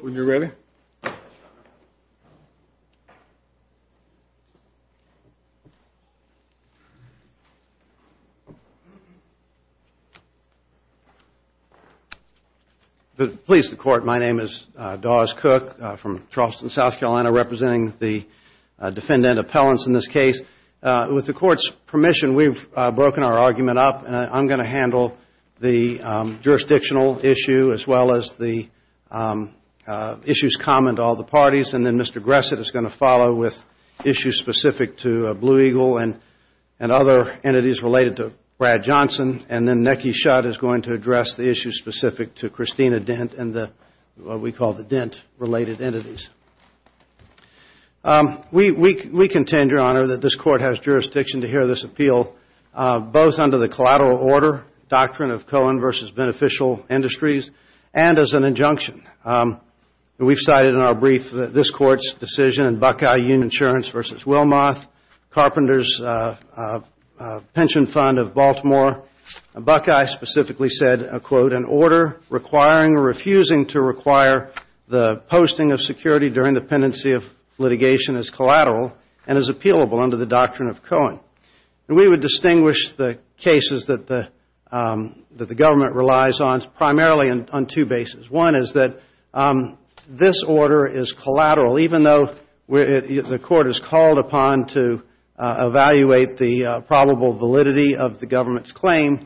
when you're ready please the court my name is Dawes Cook from Charleston South Carolina representing the defendant appellants in this case with the court's permission we've broken our argument up and I'm gonna handle the jurisdictional issue as well as the issues common to all the parties and then Mr. Gresset is going to follow with issues specific to Blue Eagle and other entities related to Brad Johnson and then Necky Shutt is going to address the issue specific to Christina Dent and the what we call the Dent related entities. We contend your honor that this court has jurisdiction to hear this appeal both under the collateral order doctrine of Cohen versus beneficial industries and as an injunction. We've cited in our brief that this court's decision in Buckeye Union Insurance versus Wilmoth Carpenter's pension fund of Baltimore Buckeye specifically said a quote an order requiring or refusing to require the posting of security during the pendency of litigation is collateral and is appealable under the doctrine of Cohen. We would distinguish the that the government relies on primarily on two bases. One is that this order is collateral even though the court is called upon to evaluate the probable validity of the government's claim.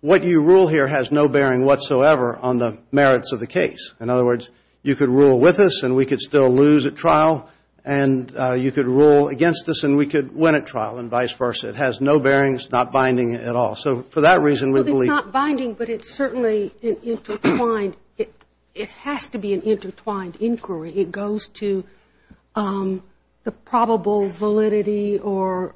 What you rule here has no bearing whatsoever on the merits of the case. In other words, you could rule with us and we could still lose at trial and you could rule against us and we could win at trial and vice versa. It has no bearing, it's not binding at all. So for that reason we believe... It's not binding but it's certainly intertwined. It has to be an intertwined inquiry. It goes to the probable validity or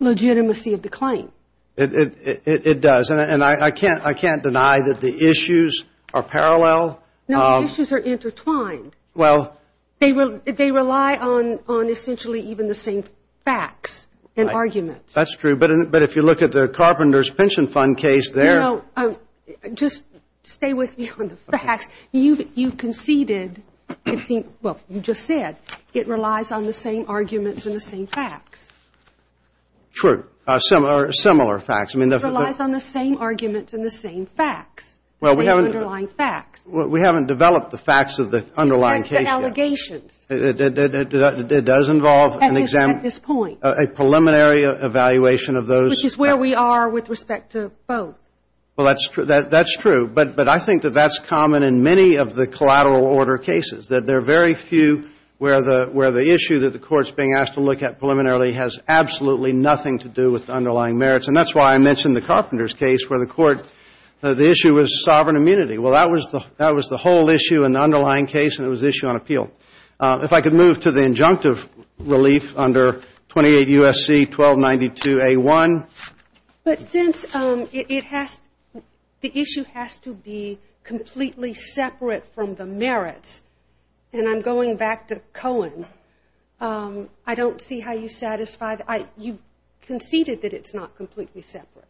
legitimacy of the claim. It does and I can't deny that the issues are parallel. No, the issues are intertwined. Well... They rely on essentially even the same facts and arguments. That's true but if you look at the Carpenter's Pension Fund case there... Just stay with me on the facts. You've conceded, well, you just said, it relies on the same arguments and the same facts. True. Or similar facts. It relies on the same arguments and the same facts. Well, we haven't... The underlying facts. We haven't developed the facts of the underlying case yet. And the allegations. It does involve a preliminary evaluation of those. Which is where we are with respect to both. Well, that's true. But I think that that's common in many of the collateral order cases. That there are very few where the issue that the court's being asked to look at preliminarily has absolutely nothing to do with the underlying merits. And that's why I mentioned the Carpenter's case where the issue was sovereign immunity. Well, that was the whole issue in the underlying case and it was issue on appeal. If I could move to the injunctive relief under 28 U.S.C. 1292 A.1. But since it has... The issue has to be completely separate from the merits. And I'm going back to Cohen. I don't see how you satisfy... You conceded that it's not completely separate.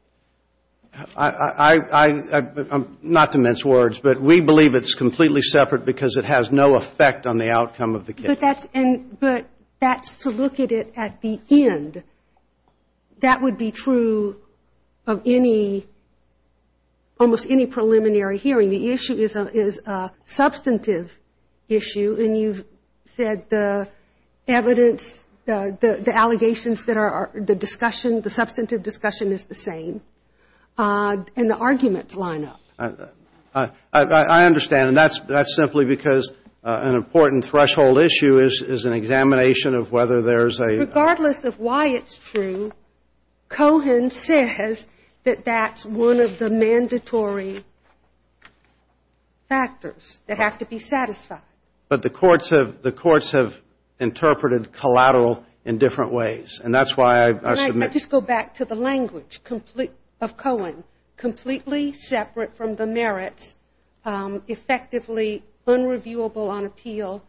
I... I... I... Not to mince words, but we believe it's completely separate because it has no effect on the outcome of the case. But that's... But that's to look at it at the end. That would be true of any... Almost any preliminary hearing. The issue is a substantive issue. And you've said the evidence... The allegations that are... The discussion... The substantive discussion is the same. And the arguments line up. I understand. And that's simply because an important threshold issue is an examination of whether there's a... Regardless of why it's true, Cohen says that that's one of the mandatory factors that have to be satisfied. But the courts have interpreted collateral in different ways. And that's why I submit... I just go back to the language of Cohen. Completely separate from the merits. Effectively unreviewable on appeal.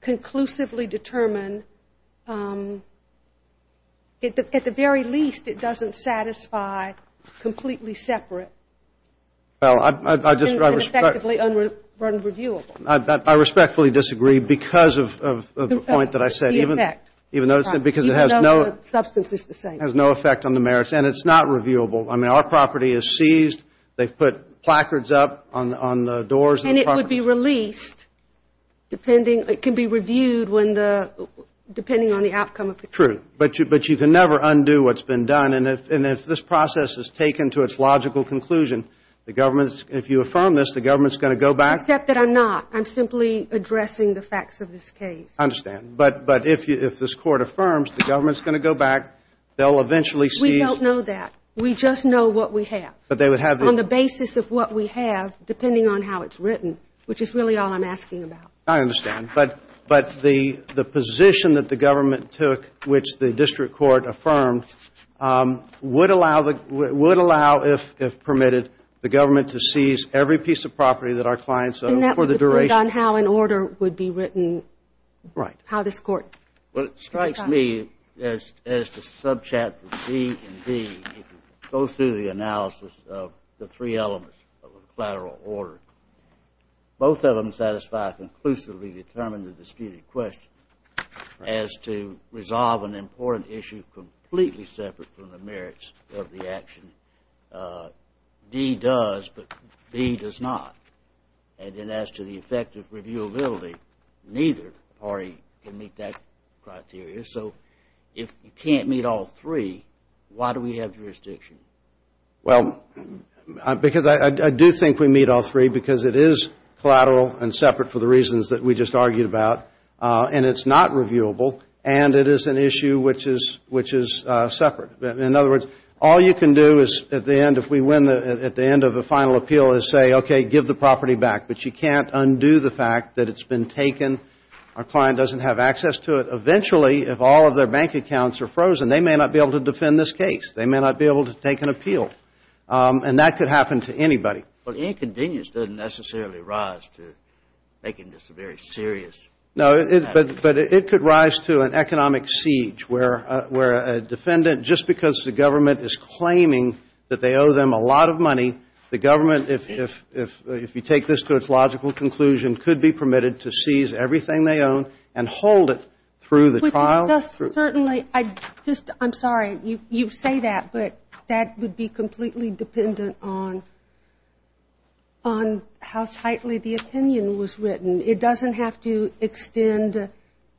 Conclusively determined. At the very least, it doesn't satisfy completely separate. Well, I just... And effectively unreviewable. I respectfully disagree because of the point that I said. Even though the substance is the same. It has no effect on the merits. And it's not reviewable. I mean, our property is seized. They've put placards up on the doors of the property. And it would be released depending... It can be reviewed when the... Depending on the outcome of the case. True. But you can never undo what's been done. And if this process is taken to its logical conclusion, the government's... If you affirm this, the government's going to go back... Except that I'm not. I'm simply addressing the facts of this case. I understand. But if this court affirms the government's going to go back, they'll eventually seize... We don't know that. We just know what we have. But they would have... On the basis of what we have, depending on how it's written, which is really all I'm asking about. I understand. But the position that the government took, which the district court affirmed, would allow, if permitted, the government to seize every piece of property that our clients... And that would depend on how an order would be written. Right. How this court... Well, it strikes me, as to subchapter D and D, if you go through the analysis of the three elements of a collateral order, both of them satisfy a conclusively determined and disputed question as to resolve an important issue completely separate from the merits of the action. D does, but B does not. And then as to the effect of reviewability, neither party can meet that criteria. So if you can't meet all three, why do we have jurisdiction? Well, because I do think we meet all three because it is collateral and separate for the reasons that we just argued about. And it's not reviewable. And it is an issue which is separate. In other words, all you can do at the end of a final appeal is say, okay, give the property back. But you can't undo the fact that it's been taken. Our client doesn't have access to it. Eventually, if all of their bank accounts are frozen, they may not be able to defend this case. They may not be able to take an appeal. And that could happen to anybody. But inconvenience doesn't necessarily rise to making this a very serious matter. No. But it could rise to an economic siege where a defendant, just because the government is claiming that they owe them a lot of money, the government, if you take this to its logical conclusion, could be permitted to seize everything they own and hold it through the trial. Certainly. I'm sorry. You say that, but that would be completely dependent on how tightly the opinion was written. It doesn't have to extend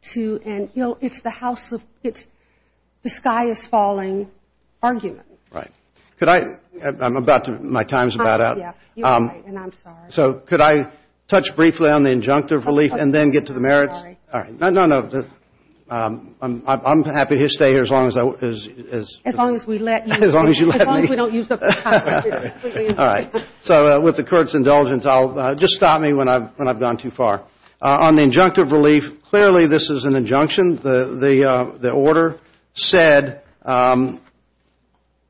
to an, you know, it's the house of, it's the sky is falling argument. Right. Could I, I'm about to, my time is about out. You're right. And I'm sorry. So could I touch briefly on the injunctive relief and then get to the merits? I'm sorry. All right. No, no, no. I'm happy to stay here as long as I, as. As long as we let you. As long as you let me. As long as we don't use up the time. All right. So with the court's indulgence, I'll, just stop me when I've gone too far. On the injunctive relief, clearly this is an injunction. The order said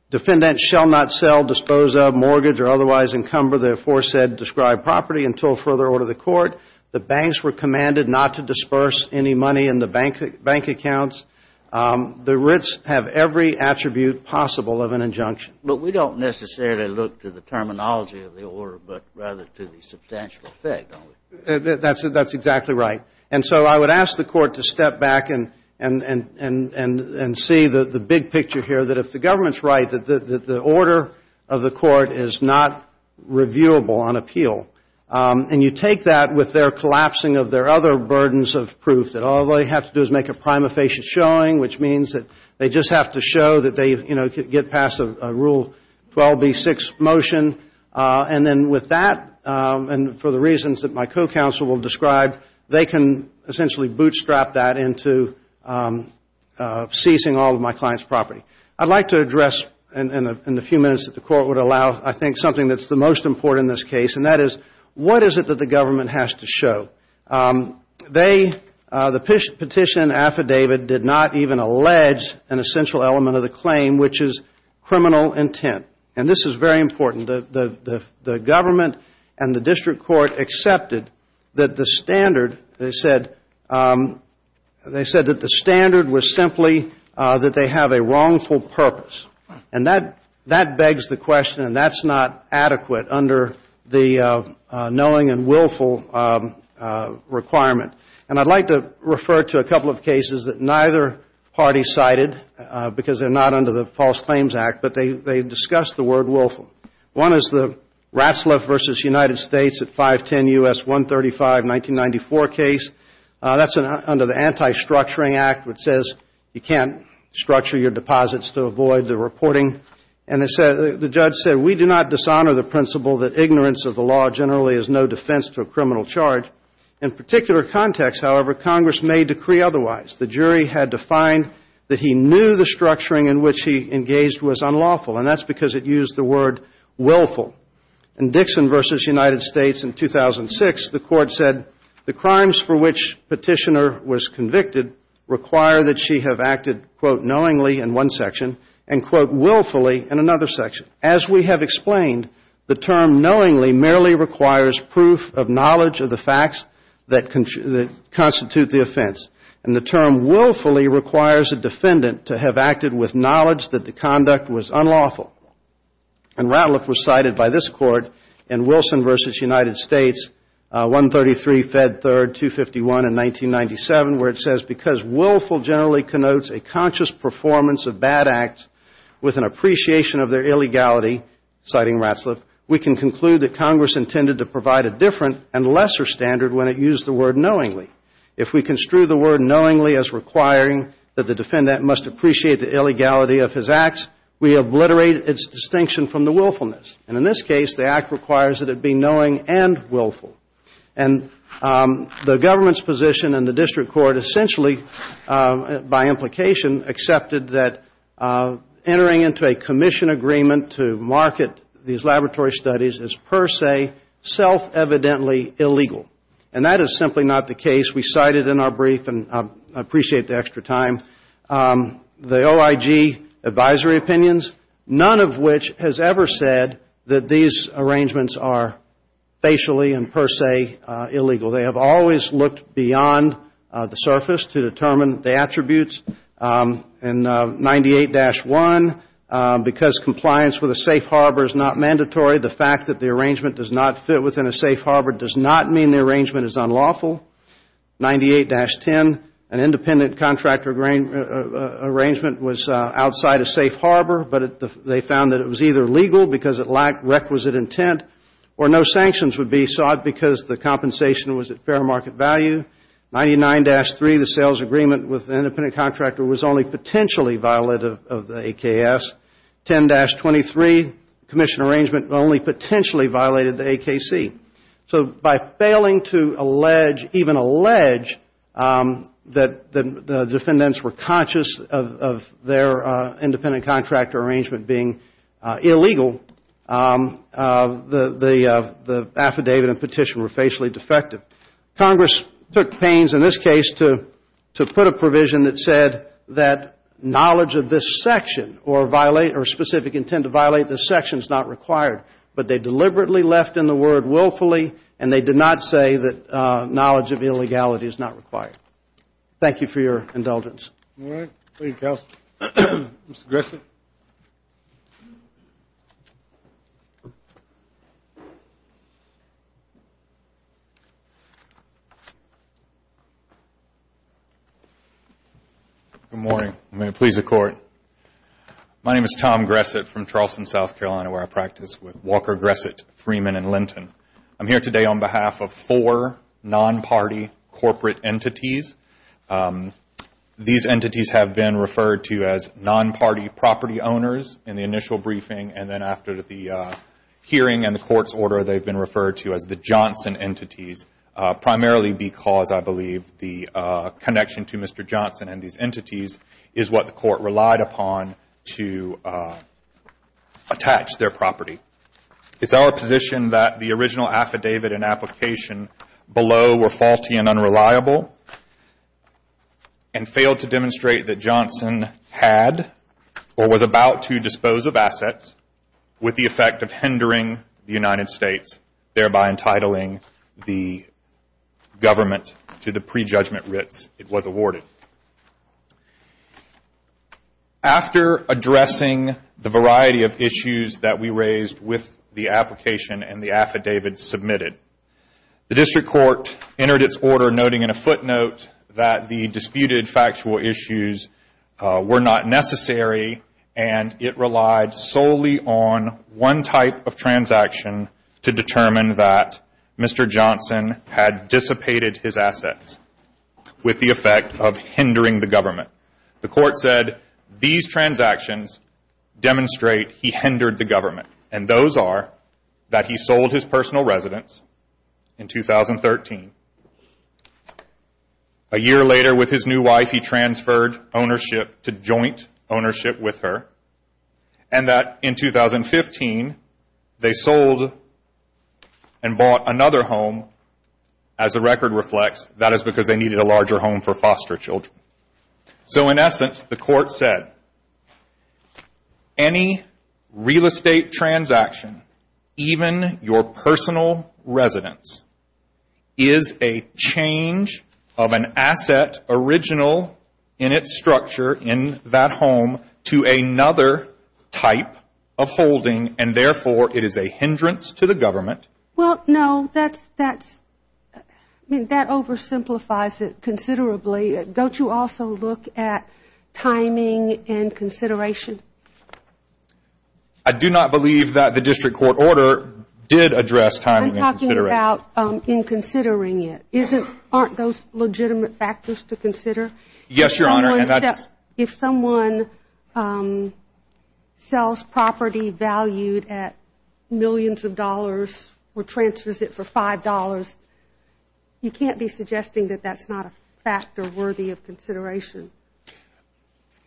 defendants shall not sell, dispose of, mortgage, or otherwise encumber, therefore said describe property until further order of the court. The banks were commanded not to disperse any money in the bank accounts. The writs have every attribute possible of an injunction. But we don't necessarily look to the terminology of the order, but rather to the substantial effect, don't we? That's exactly right. And so I would ask the court to step back and see the big picture here, that if the government's right, that the order of the court is not reviewable on appeal. And you take that with their collapsing of their other burdens of proof, that all they have to do is make a prima facie showing, which means that they just have to show that they, you know, get past a Rule 12B6 motion. And then with that, and for the reasons that my co-counsel will describe, they can essentially bootstrap that into ceasing all of my client's property. I'd like to address in the few minutes that the court would allow, I think, something that's the most important in this case, and that is, what is it that the government has to show? They, the petition affidavit, did not even allege an essential element of the claim, which is criminal intent. And this is very important. The government and the district court accepted that the standard, they said, they said that the standard was simply that they have a wrongful purpose. And that begs the question, and that's not adequate under the knowing and willful requirement. And I'd like to refer to a couple of cases that neither party cited, because they're not under the False Claims Act, but they discussed the word willful. One is the Ratzlaff v. United States at 510 U.S. 135, 1994 case. That's under the Anti-Structuring Act, which says you can't structure your deposits to avoid the reporting. And the judge said, we do not dishonor the principle that ignorance of the law generally is no defense to a criminal charge. In particular context, however, Congress may decree otherwise. The jury had to find that he knew the structuring in which he engaged was unlawful, and that's because it used the word willful. In Dixon v. United States in 2006, the court said the crimes for which Petitioner was convicted require that she have acted, quote, knowingly in one section and, quote, willfully in another section. As we have explained, the term knowingly merely requires proof of knowledge of the facts that constitute the offense. And the term willfully requires a defendant to have acted with knowledge that the conduct was unlawful. And Ratzlaff was cited by this court in Wilson v. United States, 133 Fed 3rd, 251 in 1997, where it says, because willful generally connotes a conscious performance of bad acts with an appreciation of their illegality, citing Ratzlaff, we can conclude that Congress intended to provide a different and lesser standard when it used the word knowingly. If we construe the word knowingly as requiring that the defendant must appreciate the illegality of his acts, we obliterate its distinction from the willfulness. And in this case, the act requires that it be knowing and willful. And the government's position and the district court essentially, by implication, accepted that entering into a commission agreement to market these laboratory studies is per se self-evidently illegal. And that is simply not the case. We cited in our brief, and I appreciate the extra time, the OIG advisory opinions, none of which has ever said that these arrangements are facially and per se illegal. They have always looked beyond the surface to determine the attributes. And 98-1, because compliance with a safe harbor is not mandatory, the fact that the arrangement does not fit within a safe harbor does not mean the arrangement is unlawful. 98-10, an independent contractor arrangement was outside a safe harbor, but they found that it was either legal because it lacked requisite intent, or no sanctions would be sought because the compensation was at fair market value. 99-3, the sales agreement with an independent contractor was only potentially violative of the AKS. 10-23, commission arrangement only potentially violated the AKC. So by failing to allege, even allege, that the defendants were conscious of their independent contractor arrangement being illegal, the affidavit and petition were facially defective. Congress took pains in this case to put a provision that said that knowledge of this section or specific intent to violate this section is not required. But they deliberately left in the word willfully, and they did not say that knowledge of illegality is not required. Thank you for your indulgence. Good morning. I'm going to please the court. My name is Tom Gresset from Charleston, South Carolina, where I practice with Walker, Gresset, Freeman, and Linton. I'm here today on behalf of four non-party corporate entities. These entities have been referred to as non-party property owners in the initial briefing, and then after the hearing and the court's order, they've been referred to as the Johnson entities, primarily because I believe the connection to Mr. Johnson and these entities is what the court relied upon to attach their property. It's our position that the original affidavit and application below were faulty and unreliable, and failed to demonstrate that Johnson had or was about to dispose of assets with the effect of hindering the United States, thereby entitling the government to the prejudgment writs it was awarded. After addressing the variety of issues that we raised with the application and the affidavit submitted, the district court entered its order noting in a footnote that the disputed factual issues were not necessary, and it relied solely on one type of transaction to determine that Mr. Johnson had dissipated his assets, with the effect of hindering the government. The court said these transactions demonstrate he hindered the government, and those are that he sold his personal residence in 2013. A year later with his new wife, he transferred ownership to joint ownership with her, and that in 2015 they sold and bought another home as the record reflects, that is because they needed a larger home for foster children. So in essence, the court said any real estate transaction, even your personal residence, is a change of an asset original in its structure in that home to another type of holding, and therefore it is a hindrance to the government. If the court simplifies it considerably, don't you also look at timing and consideration? I do not believe that the district court order did address timing and consideration. I'm talking about in considering it. Aren't those legitimate factors to consider? Yes, Your Honor. If someone sells property valued at millions of dollars or transfers it for $5, you can't be suggesting that that's not a factor worthy of consideration?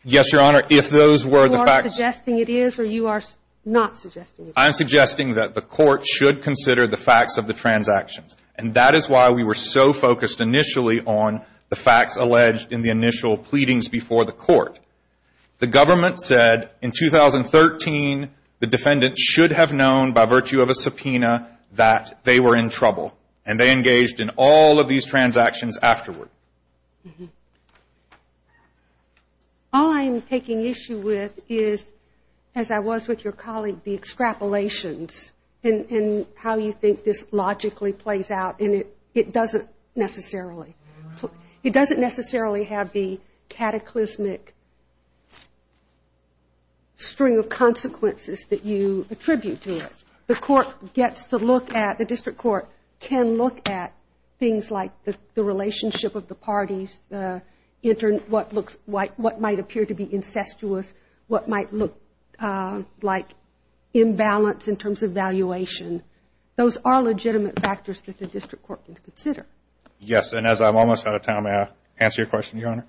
Yes, Your Honor. If those were the facts. You are suggesting it is or you are not suggesting it is? I'm suggesting that the court should consider the facts of the transactions, and that is why we were so focused initially on the facts alleged in the initial pleadings before the court. The government said in 2013 the defendant should have known by virtue of a subpoena that they were in trouble, and they engaged in all of these transactions afterward. All I'm taking issue with is, as I was with your colleague, the extrapolations, and how you think this logically plays out, and it doesn't necessarily have the cataclysmic string of consequences that you attribute to it. The district court can look at things like the relationship of the parties, what might appear to be incestuous, what might look like imbalance in terms of valuation. Those are legitimate factors that the district court can consider. Yes, and as I'm almost out of time, may I answer your question, Your Honor?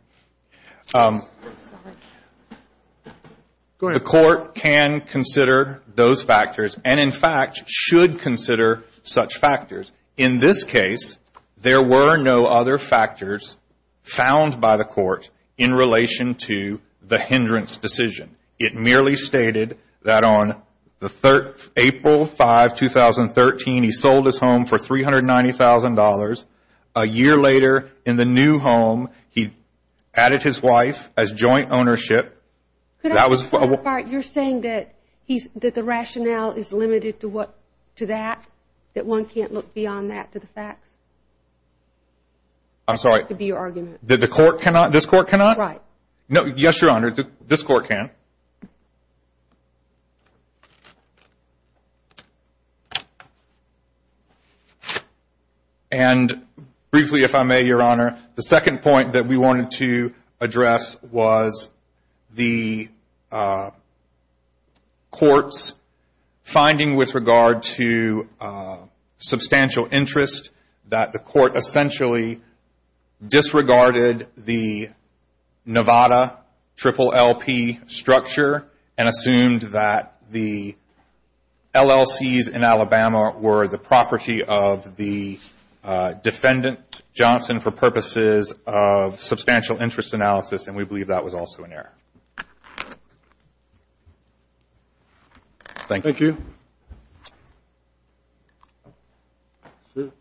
The court can consider those factors and, in fact, should consider such factors. In this case, there were no other factors found by the court in relation to the hindrance decision. It merely stated that on April 5, 2013, he sold his home for $390,000. A year later, in the new home, he added his wife as joint ownership. You're saying that the rationale is limited to that, that one can't look beyond that to the facts? That has to be your argument. Yes, Your Honor, this court can. Briefly, if I may, Your Honor, the second point that we wanted to address was the court's finding with regard to substantial interest that the court essentially disregarded the Nevada triple LP structure and assumed that the LLCs in Alabama were the property of the defendant. Johnson for purposes of substantial interest analysis, and we believe that was also an error. Thank you. Good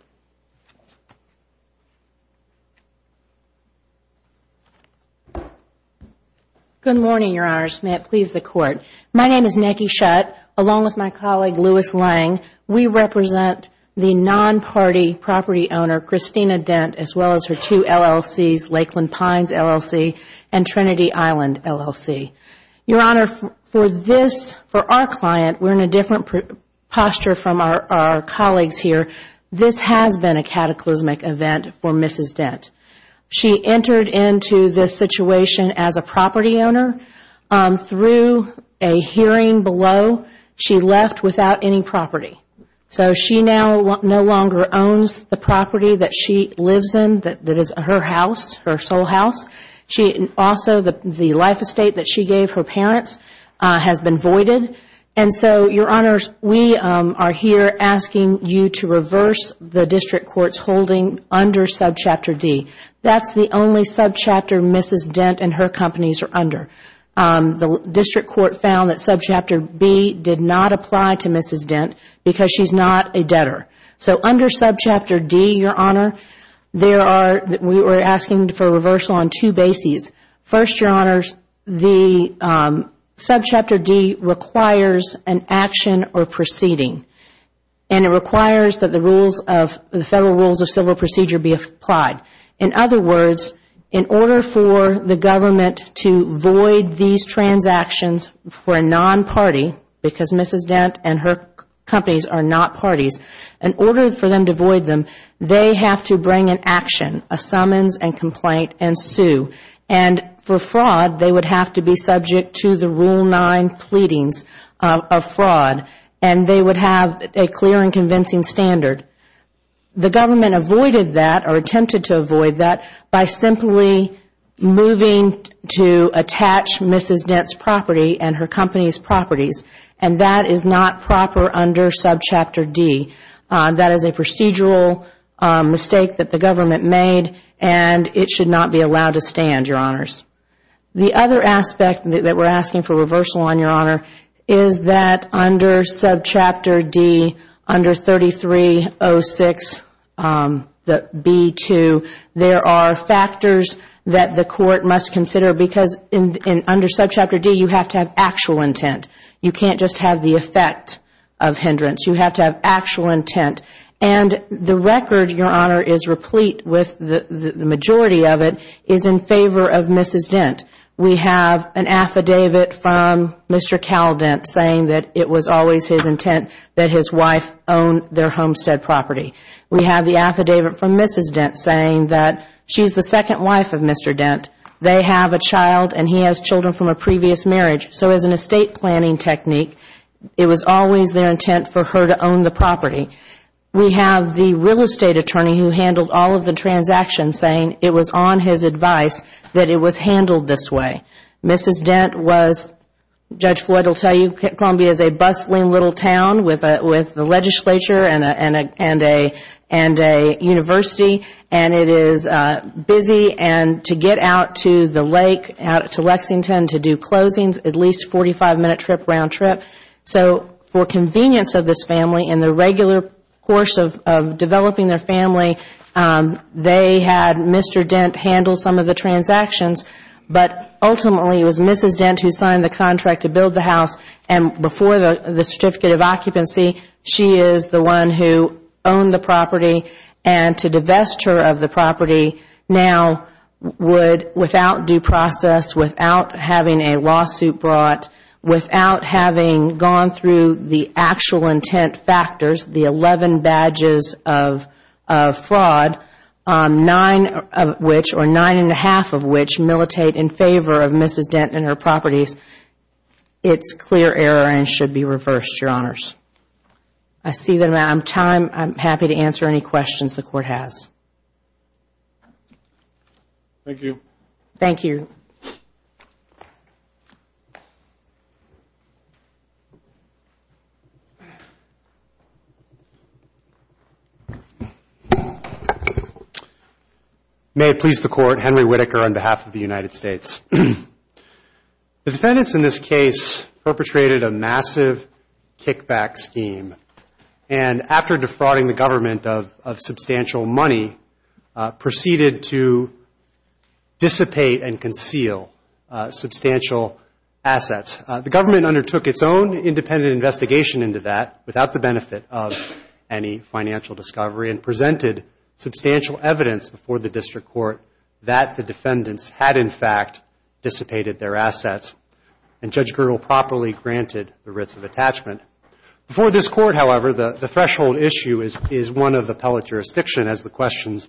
morning, Your Honors. May it please the Court. My name is Christina Dent, as well as her two LLCs, Lakeland Pines LLC and Trinity Island LLC. Your Honor, for our client, we're in a different posture from our colleagues here. This has been a cataclysmic event for Mrs. Dent. She entered into this situation as a property owner. Through a hearing below, she left without any property. She now no longer owns the property that she lives in, that is her house, her sole house. Also, the life estate that she gave her parents has been voided. Your Honor, we are here asking you to reverse the district court's holding under Subchapter D. That is the only subchapter Mrs. Dent and her companies are under. The district court found that Subchapter B did not apply to Mrs. Dent because she is not a debtor. Under Subchapter D, we are asking for reversal on two bases. First, Subchapter D requires an action or proceeding. It requires that the Federal Rules of Civil Procedure be applied. In other words, in order for the government to void these transactions for a non-party, because Mrs. Dent and her companies are not parties, in order for them to void them, they have to bring an action, a summons and complaint and sue. For fraud, they would have to be subject to the Rule 9 pleadings of fraud. They would have a clear and convincing standard. The government attempted to avoid that by simply moving to attach Mrs. Dent's property and her company's properties. That is not proper under Subchapter D. That is a procedural mistake that the government made and it should not be allowed to stand, Your Honors. The other aspect that we are asking for reversal on, Your Honor, is that under Subchapter D, under 3306B2, there are factors that the court must consider. Under Subchapter D, you have to have actual intent. You cannot just have the effect of hindrance. You have to have actual intent. The record, Your Honor, is replete with the majority of it is in favor of Mrs. Dent. We have an affidavit from Mr. Cal Dent saying that it was always his intent that his wife own their homestead property. We have the affidavit from Mrs. Dent saying that she is the second wife of Mr. Dent. They have a child and he has children from a previous marriage. So as an estate planning technique, it was always their intent for her to own the property. We have the real estate attorney who handled all of the transactions saying it was on his advice that it was handled this way. Mrs. Dent was, Judge Floyd will tell you, Columbia is a bustling little town with the legislature and a university, and it is busy. To get out to the lake, out to Lexington, to do closings, at least a 45-minute trip, round trip. So for convenience of this family, in the regular course of developing their family, they had Mr. Dent handle some of the transactions. But ultimately, it was Mrs. Dent who signed the contract to build the house, and before the certificate of occupancy, she is the one who owned the property. And to divest her of the property now would, without due process, without having a lawsuit brought, without having gone through the actual intent factors, the 11 badges of fraud, nine of which, or nine and a half of which, militate in favor of Mrs. Dent and her properties, it is clear error and should be reversed, Your Honors. I see that I'm out of time. I'm happy to answer any questions the Court has. Thank you. May it please the Court, Henry Whitaker on behalf of the United States. The defendants in this case perpetrated a massive kickback scheme, and after defrauding the government of substantial money, proceeded to dissipate and conceal substantial assets. The government undertook its own independent investigation into that, without the benefit of any financial discovery, and presented substantial evidence before the district court that the defendants had, in fact, dissipated their assets, and Judge Gergel properly granted the writs of attachment. Before this Court, however, the threshold issue is one of appellate jurisdiction, as the questions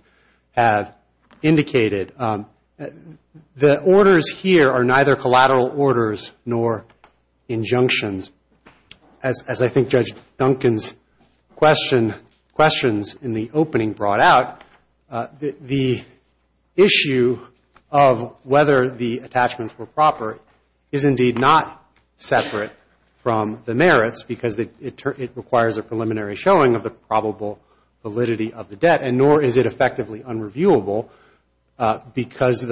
have indicated. The orders here are neither collateral orders nor injunctions. As I think Judge Duncan's questions in the opening brought out, the issue of whether the appellate jurisdiction attachments were proper is indeed not separate from the merits, because it requires a preliminary showing of the probable validity of the debt, and nor is it effectively unreviewable, because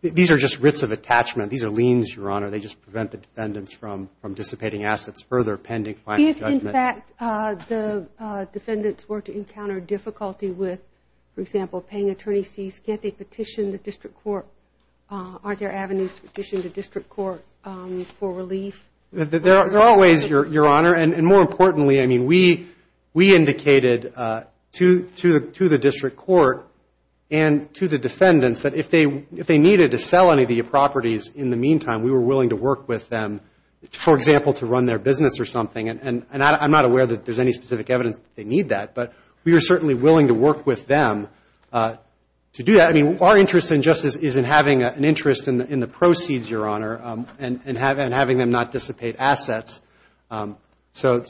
these are just writs of attachment. These are liens, Your Honor. They just prevent the defendants from dissipating assets further, pending final judgment. If, in fact, the defendants were to encounter difficulty with, for example, paying attorneys fees, can't they petition the district court? Aren't there avenues to do that? There are ways, Your Honor, and more importantly, I mean, we indicated to the district court and to the defendants that if they needed to sell any of the properties in the meantime, we were willing to work with them, for example, to run their business or something, and I'm not aware that there's any specific evidence that they need that, but we were certainly willing to work with them to do that. Our interest in justice is in having an interest in the proceeds, Your Honor, and having them not dissipate assets. So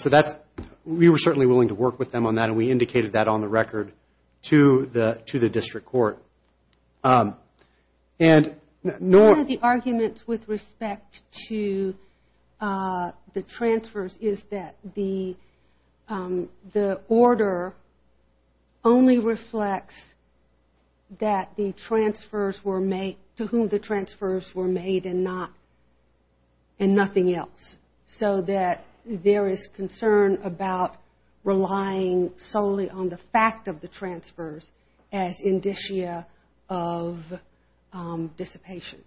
we were certainly willing to work with them on that, and we indicated that on the record to the district court. One of the arguments with respect to the transfers is that the order only reflects that the appellate jurisdiction is not a property. The appellate jurisdiction is a property. The appellate jurisdiction is a property to whom the transfers were made and nothing else, so that there is concern about relying solely on the fact of the transfers as indicia of dissipation.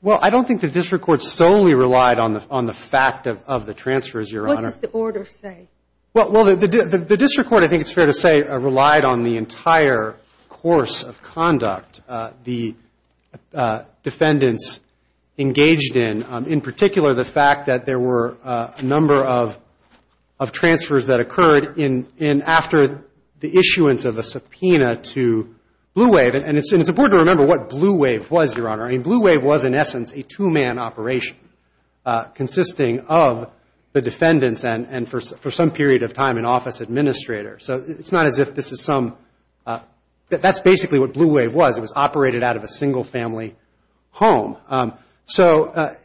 Well, I don't think the district court solely relied on the fact of the transfers, Your Honor. What does the order say? Well, the district court, I think it's fair to say, relied on the entire course of conduct the defendants engaged in, in particular, the fact that there were a number of transfers that occurred in after the issuance of a subpoena to Blue Wave, and it's important to remember what Blue Wave was, Your Honor. I mean, Blue Wave was, in essence, a two-man operation consisting of the defendants and, for some people, the appellate jurisdiction, and the appellate jurisdiction was a two-man operation consisting of the defendants. And the appellate jurisdiction was, for some period of time, an office administrator. So it's not as if this is some, that's basically what Blue Wave was. It was operated out of a single-family home. So,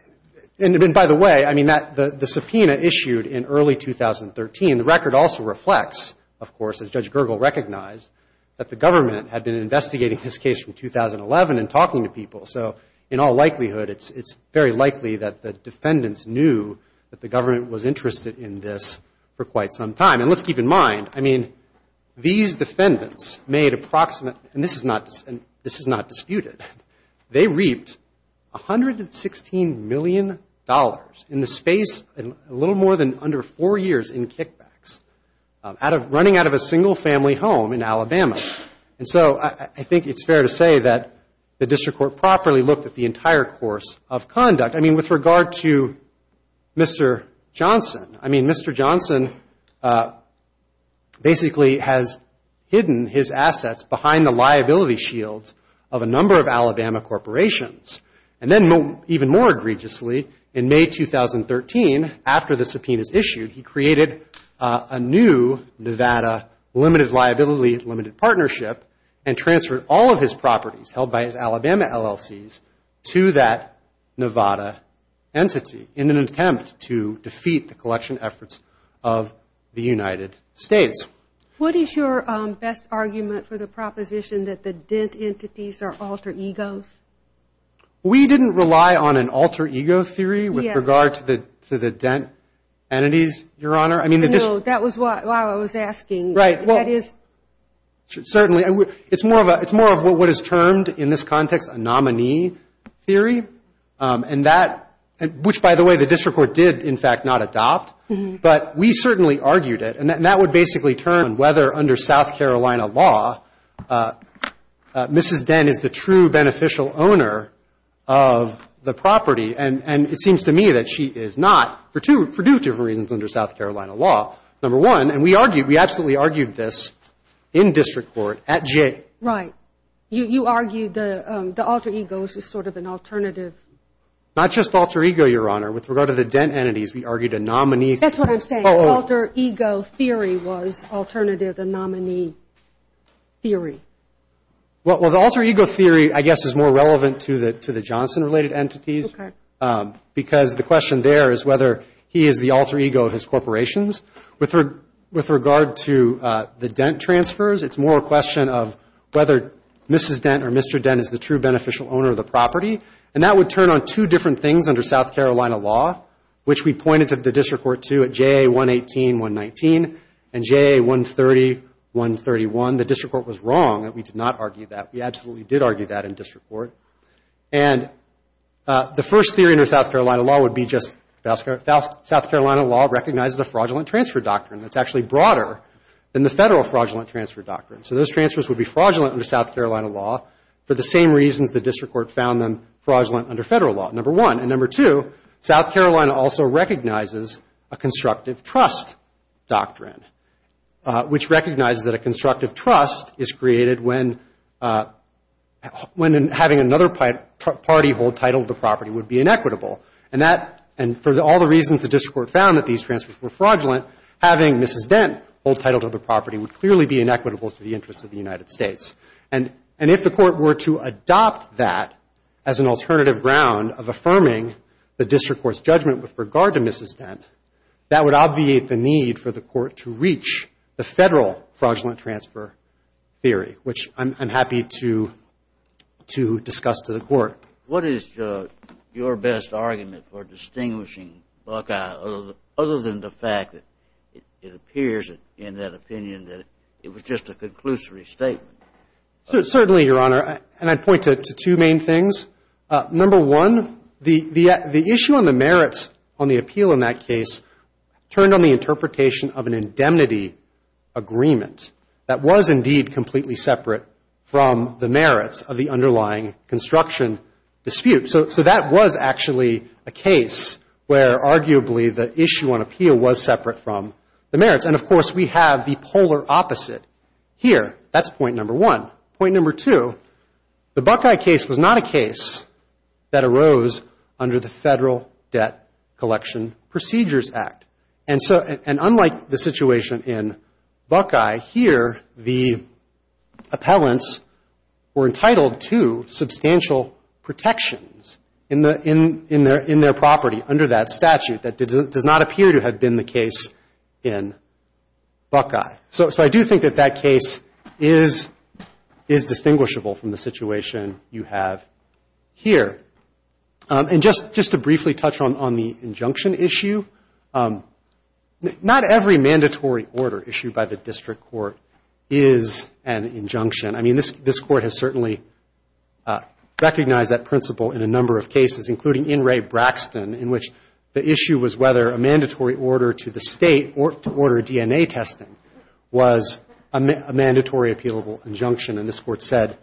and by the way, I mean, the subpoena issued in early 2013, the record also reflects, of course, as Judge Gergel recognized, that the government had been investigating this case from 2011 and talking to people. So, in all likelihood, it's very likely that the defendants knew that the government was investigating this case for quite some time. And let's keep in mind, I mean, these defendants made approximate, and this is not disputed, they reaped $116 million in the space of a little more than under four years in kickbacks, running out of a single-family home in Alabama. And so I think it's fair to say that the district court properly looked at the entire course of conduct. I mean, with regard to Mr. Johnson, I mean, Mr. Johnson was basically, has hidden his assets behind the liability shields of a number of Alabama corporations. And then, even more egregiously, in May 2013, after the subpoena is issued, he created a new Nevada limited liability, limited partnership, and transferred all of his properties, held by his Alabama LLCs, to that Nevada entity in an attempt to defeat the collection efforts of Alabama LLCs. So, in all likelihood, the district court did not adopt the United States. What is your best argument for the proposition that the dent entities are alter egos? We didn't rely on an alter ego theory with regard to the dent entities, Your Honor. No, that was why I was asking. Certainly. It's more of what is termed in this context a nominee theory, which, by the way, the district court did, in fact, not adopt. But we certainly argued it. And that would basically turn on whether, under South Carolina law, Mrs. Dent is the true beneficial owner of the property. And it seems to me that she is not, for two different reasons under South Carolina law. Number one, and we argued, we absolutely argued this in district court at Jay. Right. You argued the alter ego is just sort of an alternative. Not just alter ego, Your Honor. With regard to the dent entities, we argued a nominee theory. That's what I'm saying. Alter ego theory was alternative, a nominee theory. Well, the alter ego theory, I guess, is more relevant to the Johnson-related entities. Because the question there is whether he is the alter ego of his corporations. With regard to the dent transfers, it's more a question of whether Mrs. Dent or Mr. Dent is the true beneficial owner of the property. And that would turn on two different things under South Carolina law, which we pointed to the district court, too, and we argued at Jay 118, 119, and Jay 130, 131. The district court was wrong that we did not argue that. We absolutely did argue that in district court. And the first theory under South Carolina law would be just South Carolina law recognizes a fraudulent transfer doctrine. That's actually broader than the federal fraudulent transfer doctrine. So those transfers would be fraudulent under South Carolina law for the same reasons the district court found them fraudulent under federal law, number one. And number two, South Carolina also recognizes a constructive trust doctrine, which recognizes that a constructive trust is created when having another party hold title to the property would be inequitable. And for all the reasons the district court found that these transfers were fraudulent, having Mrs. Dent hold title to the property would clearly be inequitable to the interests of the United States. And if the court were to adopt that as an alternative ground of affirming the district court's judgment with regard to Mrs. Dent, that would obviate the need for the court to reach the federal fraudulent transfer theory, which I'm happy to discuss to the court. What is your best argument for distinguishing Buckeye other than the fact that it appears in that opinion that it was just a conclusory statement? Certainly, Your Honor. And I'd point to two main things. Number one, the issue on the merits on the appeal in that case turned on the interpretation of an indemnity agreement that was indeed completely separate from the merits of the underlying construction dispute. So that was actually a case where arguably the issue on appeal was separate from the merits. And, of course, we have the polar opposite here. That's point number one. Point number two, the Buckeye case was not a case that arose under the Federal Debt Collection Procedures Act. And unlike the situation in Buckeye, here the appellants were entitled to substantial protections in their property under that statute. That does not appear to have been the case in Buckeye. So I just want to make that clear. But I do think that that case is distinguishable from the situation you have here. And just to briefly touch on the injunction issue, not every mandatory order issued by the district court is an injunction. I mean, this Court has certainly recognized that principle in a number of cases, including in Ray Braxton, in which the issue was whether a mandatory order to the state to appeal was a mandatory appealable injunction. And this Court said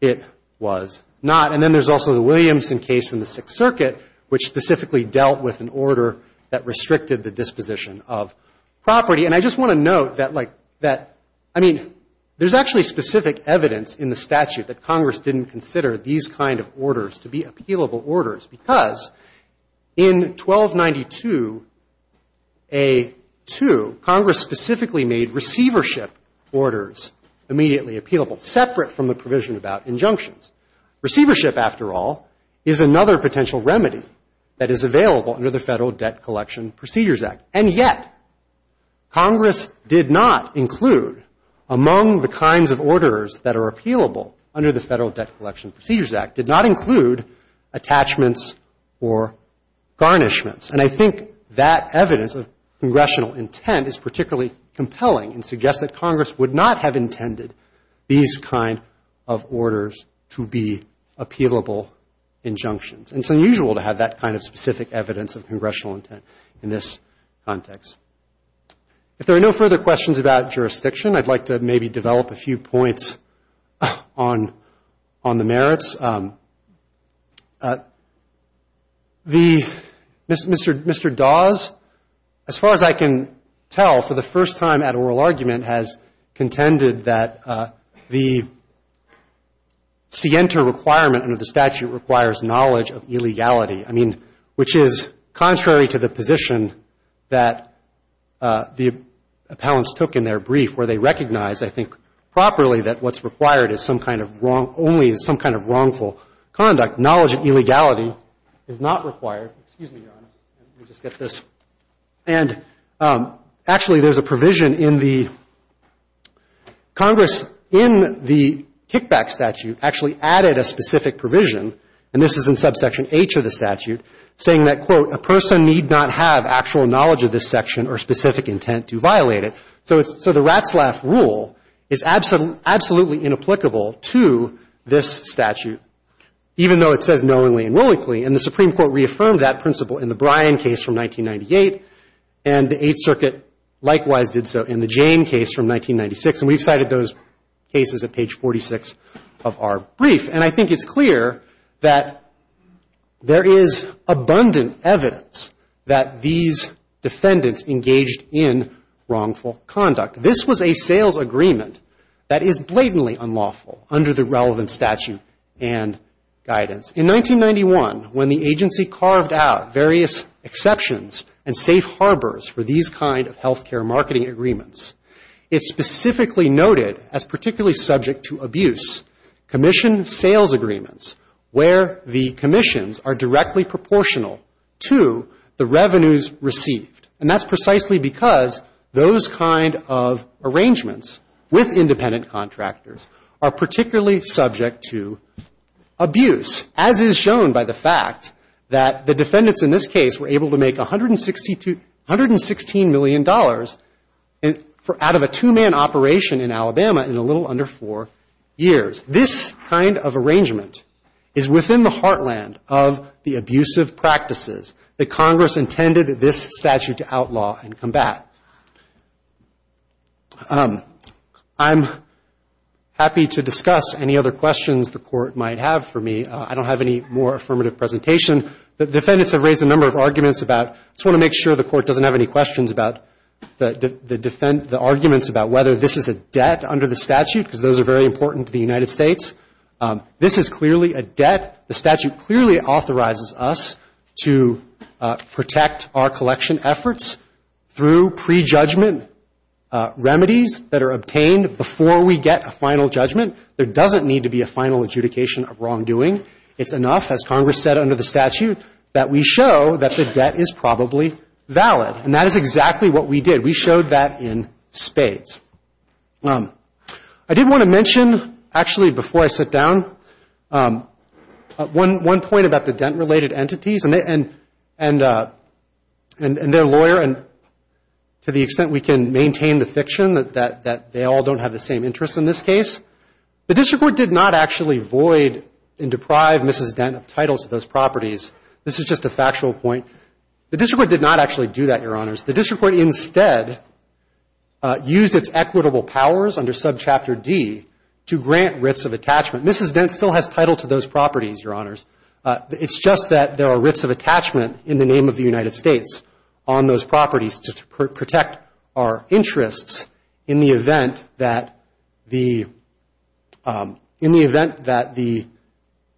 it was not. And then there's also the Williamson case in the Sixth Circuit, which specifically dealt with an order that restricted the disposition of property. And I just want to note that, like, that, I mean, there's actually specific evidence in the statute that Congress didn't consider these kind of orders to be appealable orders, because in 1292A2, Congress specifically made receivership of the order to the district court. And that's what we're talking about here. Receivership orders, immediately appealable, separate from the provision about injunctions. Receivership, after all, is another potential remedy that is available under the Federal Debt Collection Procedures Act. And yet, Congress did not include, among the kinds of orders that are appealable under the Federal Debt Collection Procedures Act, did not include attachments or garnishments. And I think that evidence of congressional intent is particularly compelling and suggests that Congress would not have intended these kind of orders to be appealable injunctions. And it's unusual to have that kind of specific evidence of congressional intent in this context. If there are no further questions about jurisdiction, I'd like to maybe develop a few points on the merits. The Mr. Dawes, as far as I can tell, for the first time at oral argument, has contended that the scienter requirement under the statute requires knowledge of illegality. I mean, which is contrary to the position that the appellants took in their brief, where they recognized, I think, properly that what's required is some kind of wrongful conduct. Knowledge of illegality is not required. Excuse me, Your Honor. Let me just get this. And actually, there's a little bit more to this. Congress, in the kickback statute, actually added a specific provision, and this is in subsection H of the statute, saying that, quote, a person need not have actual knowledge of this section or specific intent to violate it. So it's, so the Ratzlaff rule is absolutely inapplicable to this statute, even though it says knowingly and willingly. And the Supreme Court reaffirmed that principle in the Bryan case from 1998, and the Eighth Circuit likewise did so in the Jane case from 1998. And I think that's clear that there is abundant evidence that these defendants engaged in wrongful conduct. This was a sales agreement that is blatantly unlawful under the relevant statute and guidance. In 1991, when the agency carved out various exceptions and safe places, they specifically noted, as particularly subject to abuse, commission sales agreements, where the commissions are directly proportional to the revenues received. And that's precisely because those kind of arrangements with independent contractors are particularly subject to abuse, as is shown by the fact that the defendants in this case were able to make $116 million out of a two-man operation in Alabama in a little under four years. This kind of arrangement is within the heartland of the abusive practices that Congress intended this statute to outlaw and combat. I'm happy to discuss any other questions the Court might have for me. I don't have any more affirmative presentation. The defendants have raised a number of arguments about, I just want to make sure the Court doesn't have any questions about the arguments about whether this is a debt under the statute, because those are very important to the United States. This is clearly a debt. The statute clearly authorizes us to protect our collection efforts through prejudgment remedies that are obtained before we get a final judgment. There doesn't need to be a final adjudication of wrongdoing. It's enough, as Congress said under the statute, that we show that the debt is a debt. It is probably valid, and that is exactly what we did. We showed that in spades. I did want to mention, actually, before I sit down, one point about the dent-related entities and their lawyer, and to the extent we can maintain the fiction that they all don't have the same interests in this case. The District Court did not actually void and deprive Mrs. Dent of titles to those properties. The District Court instead used its equitable powers under subchapter D to grant writs of attachment. Mrs. Dent still has title to those properties, Your Honors. It's just that there are writs of attachment in the name of the United States on those properties to protect our interests in the event that the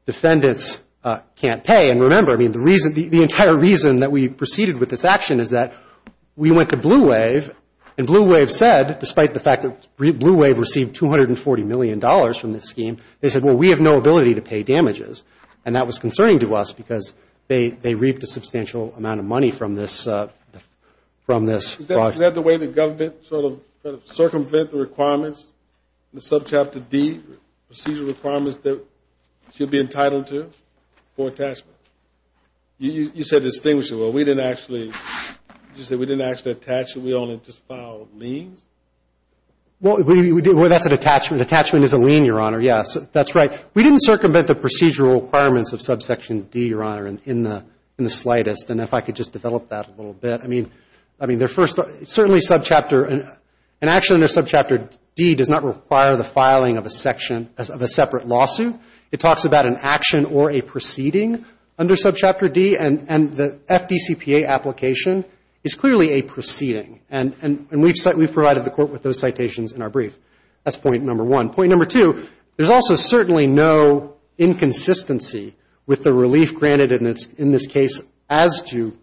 defendants can't pay. And remember, the entire reason that we proceeded with this action is that we went to Blue Wave, and Blue Wave said, despite the fact that Blue Wave received $240 million from this scheme, they said, well, we have no ability to pay damages. And that was concerning to us because they reaped a substantial amount of money from this fraud. Is that the way the government sort of circumvented the requirements in the subchapter D, procedural requirements that she'll be filing? Well, that's an attachment. Attachment is a lien, Your Honor. Yes, that's right. We didn't circumvent the procedural requirements of subsection D, Your Honor, in the slightest. And if I could just develop that a little bit. I mean, their first, certainly subchapter, an action under subchapter D does not require the filing of a separate lawsuit. It talks about an action or a proceeding under subchapter D, and the FDCPA application is clearly a proceeding. And we've provided the Court with those citations in our brief. That's point number one. Point number two, there's also certainly no inconsistency with the relief granted in this case as to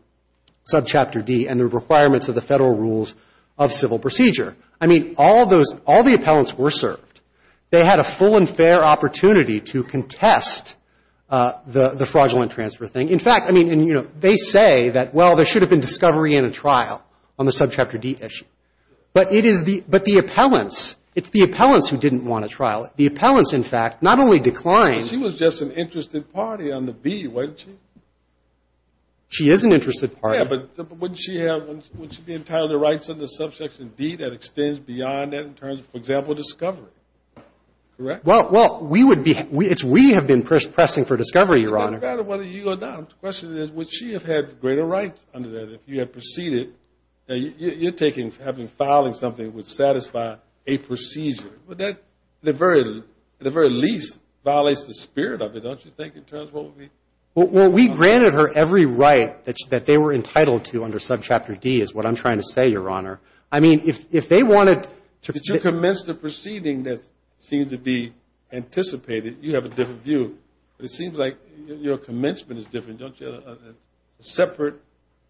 subchapter D and the requirements of the Federal rules of civil procedure. I mean, all those, all the appellants were served. They had a full and complete review of the fraudulent transfer thing. In fact, I mean, and, you know, they say that, well, there should have been discovery and a trial on the subchapter D issue. But it is the, but the appellants, it's the appellants who didn't want a trial. The appellants, in fact, not only declined. But she was just an interested party on the B, wasn't she? She is an interested party. Yeah, but wouldn't she have, wouldn't she be entitled to rights under subsection D that extends beyond that in terms of, for example, discovery? Correct? Well, we would be, it's we have been pressing for discovery, Your Honor. It doesn't matter whether you or not. The question is, would she have had greater rights under that if you had proceeded? You're taking, having, filing something that would satisfy a procedure. Would that, at the very, at the very least, violates the spirit of it, don't you think, in terms of what would be? Well, we granted her every right that they were entitled to under subchapter D is what I'm trying to say, Your Honor. I mean, if they wanted to. Did you commence the proceeding that seems to be anticipated? You have a different view, but it seems like your commencement is different, don't you? A separate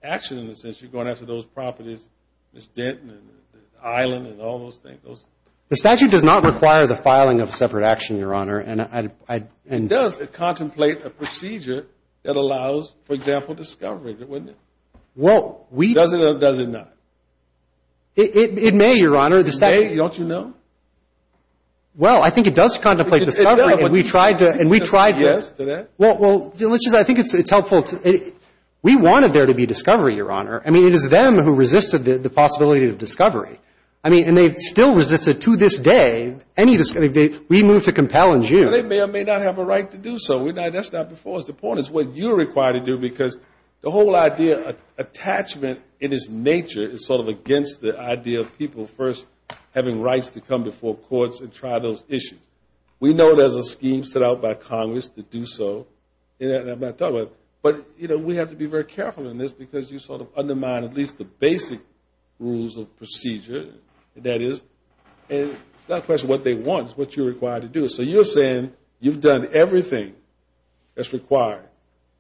action in the sense you're going after those properties, Miss Denton, and the island, and all those things. The statute does not require the filing of separate action, Your Honor. It does. It contemplates a procedure that allows, for example, discovery, doesn't it? Well, we. Does it or does it not? It may, Your Honor. It may, don't you know? Well, I think it does contemplate discovery, and we tried to. Well, let's just, I think it's helpful to, we wanted there to be discovery, Your Honor. I mean, it is them who resisted the possibility of discovery. I mean, and they still resist it to this day. We move to compel in June. Well, they may or may not have a right to do so. The point is what you're required to do, because the whole idea of attachment in its nature is sort of against the idea of people first having rights to come before courts and try those issues. We know there's a scheme set out by Congress to do so. But, you know, we have to be very careful in this, because you sort of undermine at least the basic rules of procedure. That is, it's not a question of what they want. It's what you're required to do. So you're saying you've done everything that's required?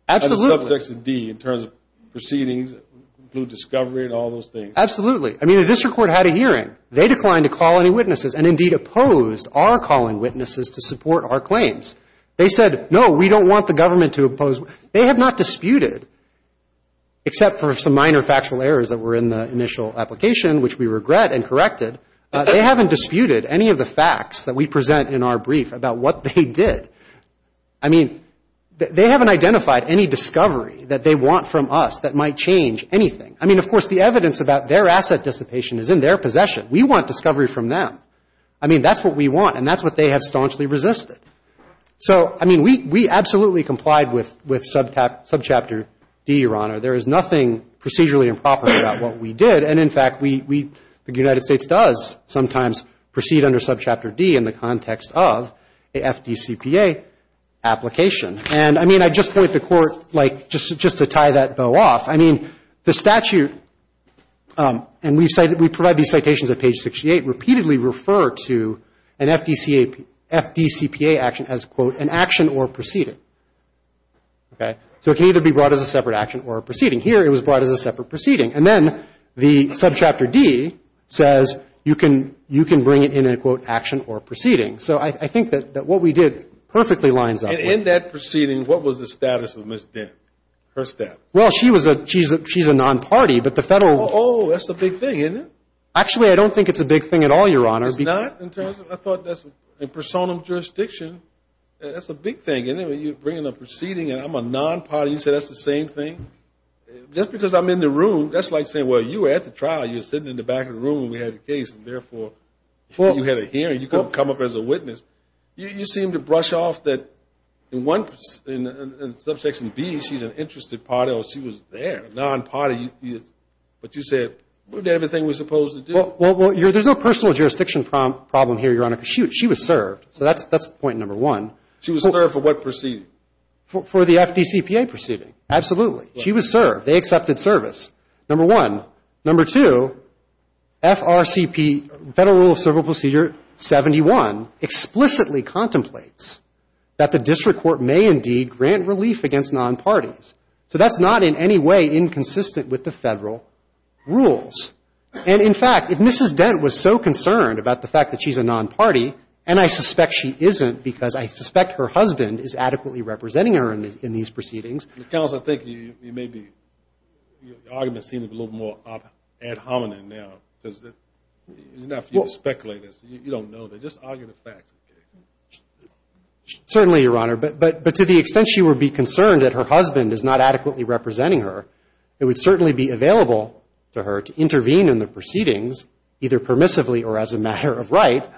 Absolutely. I mean, the district court had a hearing. They declined to call any witnesses and, indeed, opposed our calling witnesses to support our claims. They said, no, we don't want the government to oppose. They have not disputed, except for some minor factual errors that were in the initial application, which we regret and corrected, they haven't disputed any of the facts that we present in our brief about what they did. I mean, they haven't identified any discovery that they want from us that might change anything. I mean, of course, the evidence about their asset dissipation is in their possession. We want discovery from them. I mean, that's what we want, and that's what they have staunchly resisted. So, I mean, we absolutely complied with Subchapter D, Your Honor. There is nothing procedurally improper about what we did, and, in fact, we the United States does sometimes proceed under Subchapter D in the context of a FDCPA application. And, I mean, I just point the court, like, just to tie that bow off, I mean, the statute, and we provide these citations at page 68, repeatedly refer to an FDCPA action as, quote, an action or proceeding. Okay? So it can either be brought as a separate action or a proceeding. Here, it was brought as a separate proceeding. And then the Subchapter D says you can bring it in a, quote, action or proceeding. So I think that what we did perfectly lines up with... And in that proceeding, what was the status of Ms. Dent, her status? Well, she's a non-party, but the Federal... Oh, that's a big thing, isn't it? Actually, I don't think it's a big thing at all, Your Honor. It's not? In terms of... I thought that's... In personam jurisdiction, that's a big thing. And then when you bring in a proceeding, and I'm a non-party, you say that's the same thing? Just because I'm in the room, that's like saying, well, you were at the trial, you were sitting in the back of the room when we had the case, and therefore, before you had a hearing, you couldn't come up as a witness. You seem to brush off that in one... In Subsection B, she's an interested party, or she was there, a non-party. But you said, what did everything we're supposed to do? Well, there's no personal jurisdiction problem here, Your Honor, because she was served. So that's point number one. She was served for what proceeding? For the FDCPA proceeding. Absolutely. She was served. They accepted service. Number one. Number two, FRCP, Federal Rule of Cerebral Procedure 71, explicitly contemplates that the district court may indeed grant relief against non-parties. So that's not in any way inconsistent with the Federal rules. And, in fact, if Mrs. Dent was so concerned about the fact that she's a non-party, and I suspect she isn't, because I suspect her husband is adequately representing her in these proceedings... Counsel, I think you may be... Your argument seems a little more ad hominem now, because it's not for you to speculate. You don't know. Just argue the facts. Certainly, Your Honor. But to the extent she would be concerned that her husband is not adequately representing her, it would certainly be available to her to intervene in the proceedings, either permissively or as a matter of right,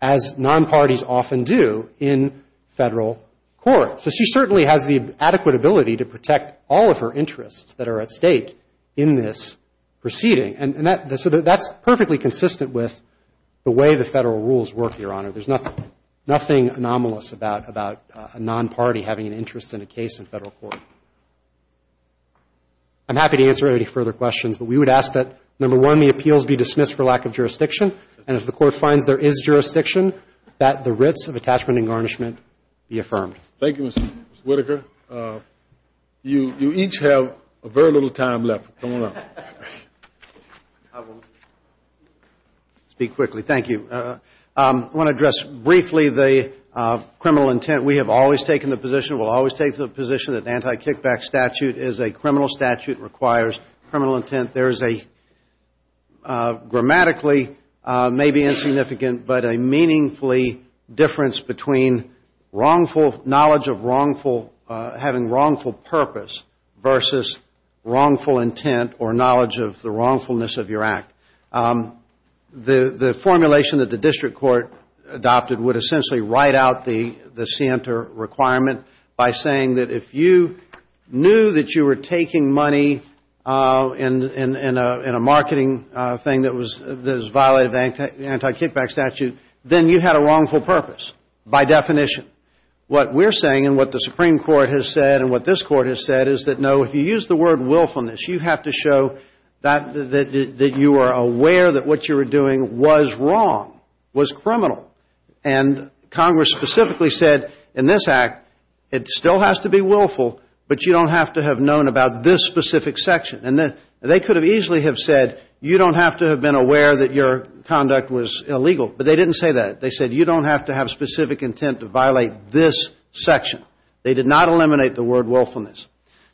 as non-parties often do in Federal court. So she certainly has the adequate ability to protect all of her interests that are at stake in this proceeding. And that's perfectly consistent with the way the Federal rules work, Your Honor. There's nothing anomalous about a non-party having an interest in a case in Federal court. I'm happy to answer any further questions, but we would ask that, number one, the appeals be dismissed for lack of jurisdiction, and if the Court finds there is jurisdiction, that the writs of attachment and garnishment be affirmed. Thank you, Mr. Whitaker. You each have very little time left. Come on up. I will speak quickly. Thank you. I want to address briefly the criminal intent. We have always taken the position, we'll always take the position that anti-kickback statute is a criminal statute, requires criminal intent. There is a grammatically maybe insignificant, but a meaningfully difference between wrongful, knowledge of wrongful, having wrongful purpose versus wrongful intent or knowledge of the wrongfulness of your act. The formulation that the District Court adopted would essentially write out the requirement by saying that if you knew that you were taking money in a marketing thing that was violated of the anti-kickback statute, then you had a wrongful purpose, by definition. What we're saying and what the Supreme Court has said and what this Court has said is that, no, if you use the word willfulness, you have to show that you are aware that what you were doing was wrong, was criminal. And Congress specifically said in this Act, it still has to be willful, but you don't have to have known about this specific section. And they could have easily have said you don't have to have been aware that your conduct was illegal. But they didn't say that. They said you don't have to have specific intent to violate this section. They did not eliminate the word willfulness.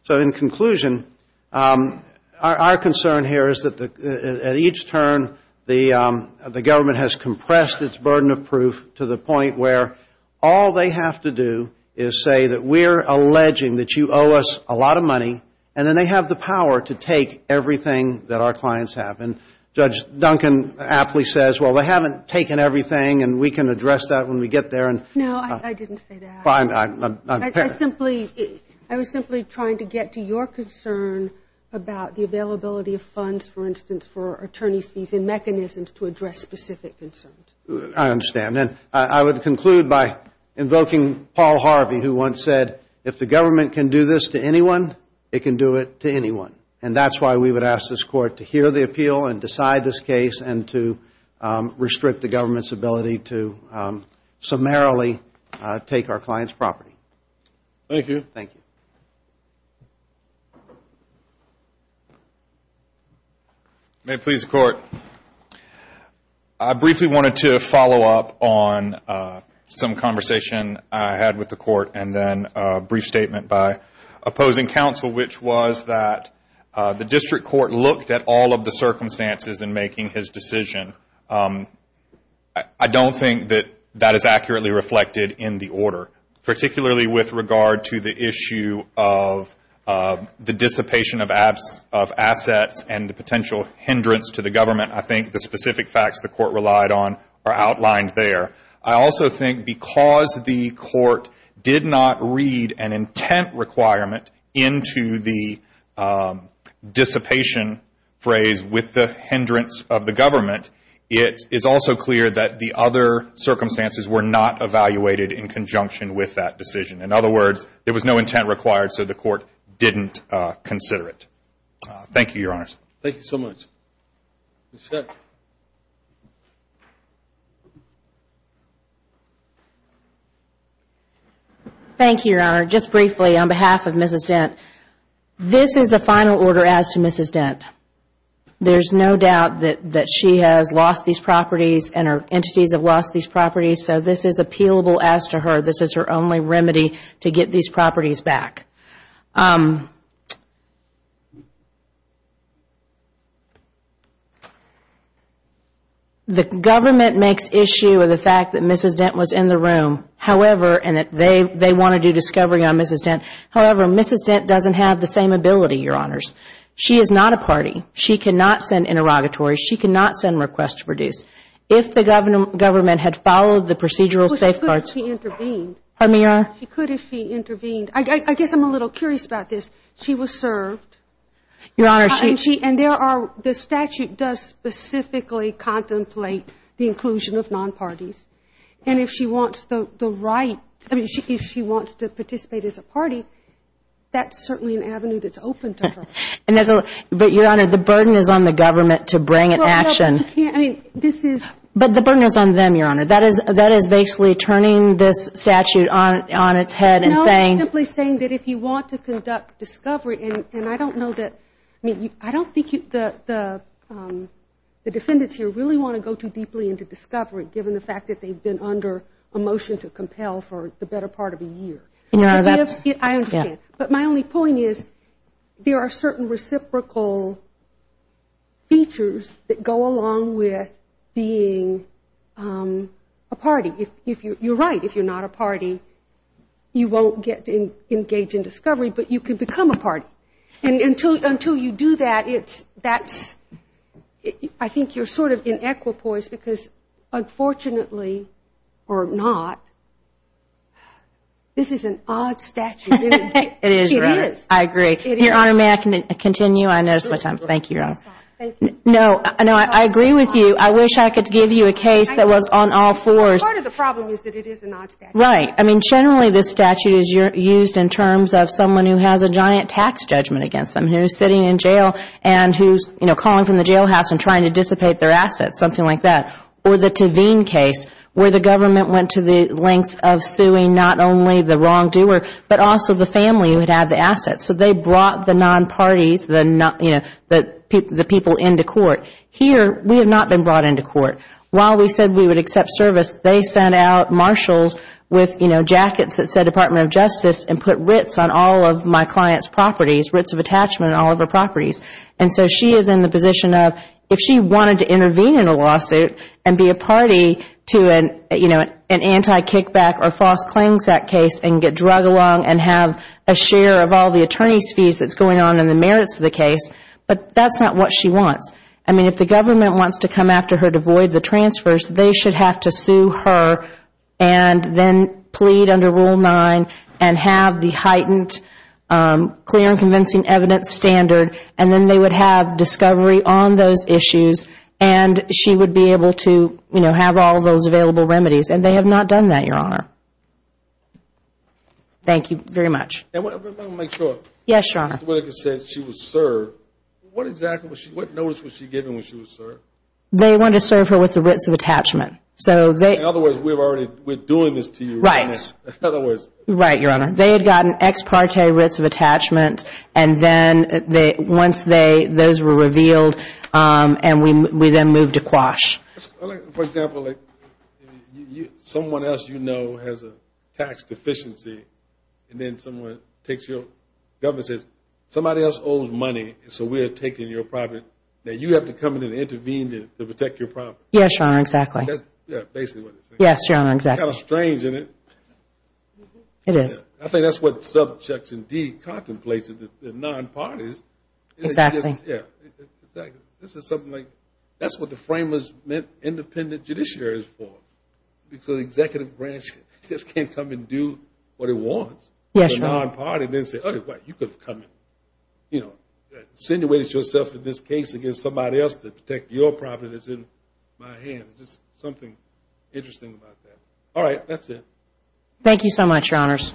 So in conclusion, our concern here is that at each turn the government has compressed its burden of proof to the point where all they have to do is say that we're alleging that you owe us a lot of money and then they have the power to take everything that our clients have. And Judge Duncan aptly says, well, they haven't taken everything and we can address that when we get there. No, I didn't say that. I was simply trying to get to your concern about the availability of funds, for instance, for specific concerns. I understand. And I would conclude by invoking Paul Harvey who once said, if the government can do this to anyone, it can do it to anyone. And that's why we would ask this Court to hear the appeal and decide this case and to restrict the government's ability to summarily take our clients' property. May it please the Court. I briefly wanted to follow up on some conversation I had with the Court and then a brief statement by opposing counsel, which was that the District Court looked at all of the circumstances in making his decision. I don't think that that is accurately reflected in the order, particularly with regard to the issue of the dissipation of assets and the potential hindrance to the government. I think the specific facts the Court relied on are outlined there. I also think because the Court did not read an intent requirement into the dissipation phrase with the hindrance of the government, it is also clear that the other circumstances were not evaluated in conjunction with that decision. In other words, there was no intent required, so the Court didn't consider it. Thank you, Your Honors. Thank you, Your Honor. Just briefly, on behalf of Mrs. Dent, this is a final order as to Mrs. Dent. There is no doubt that she has lost these properties and her entities have lost these properties, so this is appealable as to her. This is her only remedy to get these properties back. The government makes issue of the fact that Mrs. Dent was in the room, however, and they wanted to do discovery on Mrs. Dent, however, Mrs. Dent doesn't have the same ability, Your Honors. She is not a party. She cannot send interrogatories. She cannot send requests to produce. If the government had followed the procedural safeguards She could if she intervened. I guess I'm a little curious about this. She was served. And there are, the statute does specifically contemplate the inclusion of non-parties. And if she wants the right, if she wants to participate as a party, that's certainly an avenue that's open to her. But, Your Honor, the burden is on the government to bring it to action. But the burden is on them, Your Honor. That is basically turning this statute on its head and saying... No, I'm simply saying that if you want to conduct discovery and I don't know that, I mean, I don't think the defendants here really want to go too deeply into discovery given the fact that they've been under a motion to compel for the better part of a year. I understand. But my only point is there are certain reciprocal features that go along with being a party. You're right. If you're not a party, you won't engage in discovery, but you can become a party. And until you do that, I think you're sort of in equipoise because unfortunately, or not, this is an odd statute. It is, Your Honor. I agree. Your Honor, may I continue? I noticed my time. Thank you, Your Honor. No, I agree with you. I wish I could give you the case that was on all fours. Part of the problem is that it is an odd statute. Right. I mean, generally this statute is used in terms of someone who has a giant tax judgment against them, who's sitting in jail and who's calling from the jailhouse and trying to dissipate their assets, something like that. Or the Tavine case where the government went to the lengths of suing not only the wrongdoer, but also the family who had the assets. So they brought the non-parties, the people into court. Here we have not been brought into court. While we said we would accept service, they sent out marshals with jackets that said Department of Justice and put writs on all of my client's properties, writs of attachment on all of her properties. And so she is in the position of, if she wanted to intervene in a lawsuit and be a party to an anti-kickback or false claims act case and get drug along and have a share of all the attorney's fees that's going on and the merits of the case, but that's not what she wants. I mean, if the government wants to come after her to avoid the transfers, they should have to sue her and then plead under Rule 9 and have the heightened clear and convincing evidence standard and then they would have discovery on those issues and she would be able to have all of those available remedies. And they have not done that, Your Honor. Thank you very much. And let me make sure. Yes, Your Honor. Ms. Whitaker said she was served. What exactly, what notice was she given when she was served? They wanted to serve her with the writs of attachment. In other words, we're doing this to you. Right. In other words. Right, Your Honor. They had gotten ex parte writs of attachment and then once those were revealed and we then moved to quash. For example, someone else you know has a tax deficiency and then someone takes your, the government says somebody else owes money and so we are taking your property. Now you have to come in and intervene to protect your property. Yes, Your Honor, exactly. Yes, Your Honor, exactly. Kind of strange, isn't it? It is. I think that's what Subjection D contemplates is that the non-parties Exactly. Yeah, exactly. This is something like, that's what the framers meant independent judiciaries for. Because the executive branch just can't come and do what it wants. Yes, Your Honor. The non-party didn't say, you could have come and, you know, insinuate yourself in this case against somebody else to protect your property that's in my hands. There's just something interesting about that. All right, that's it. Thank you so much, Your Honors.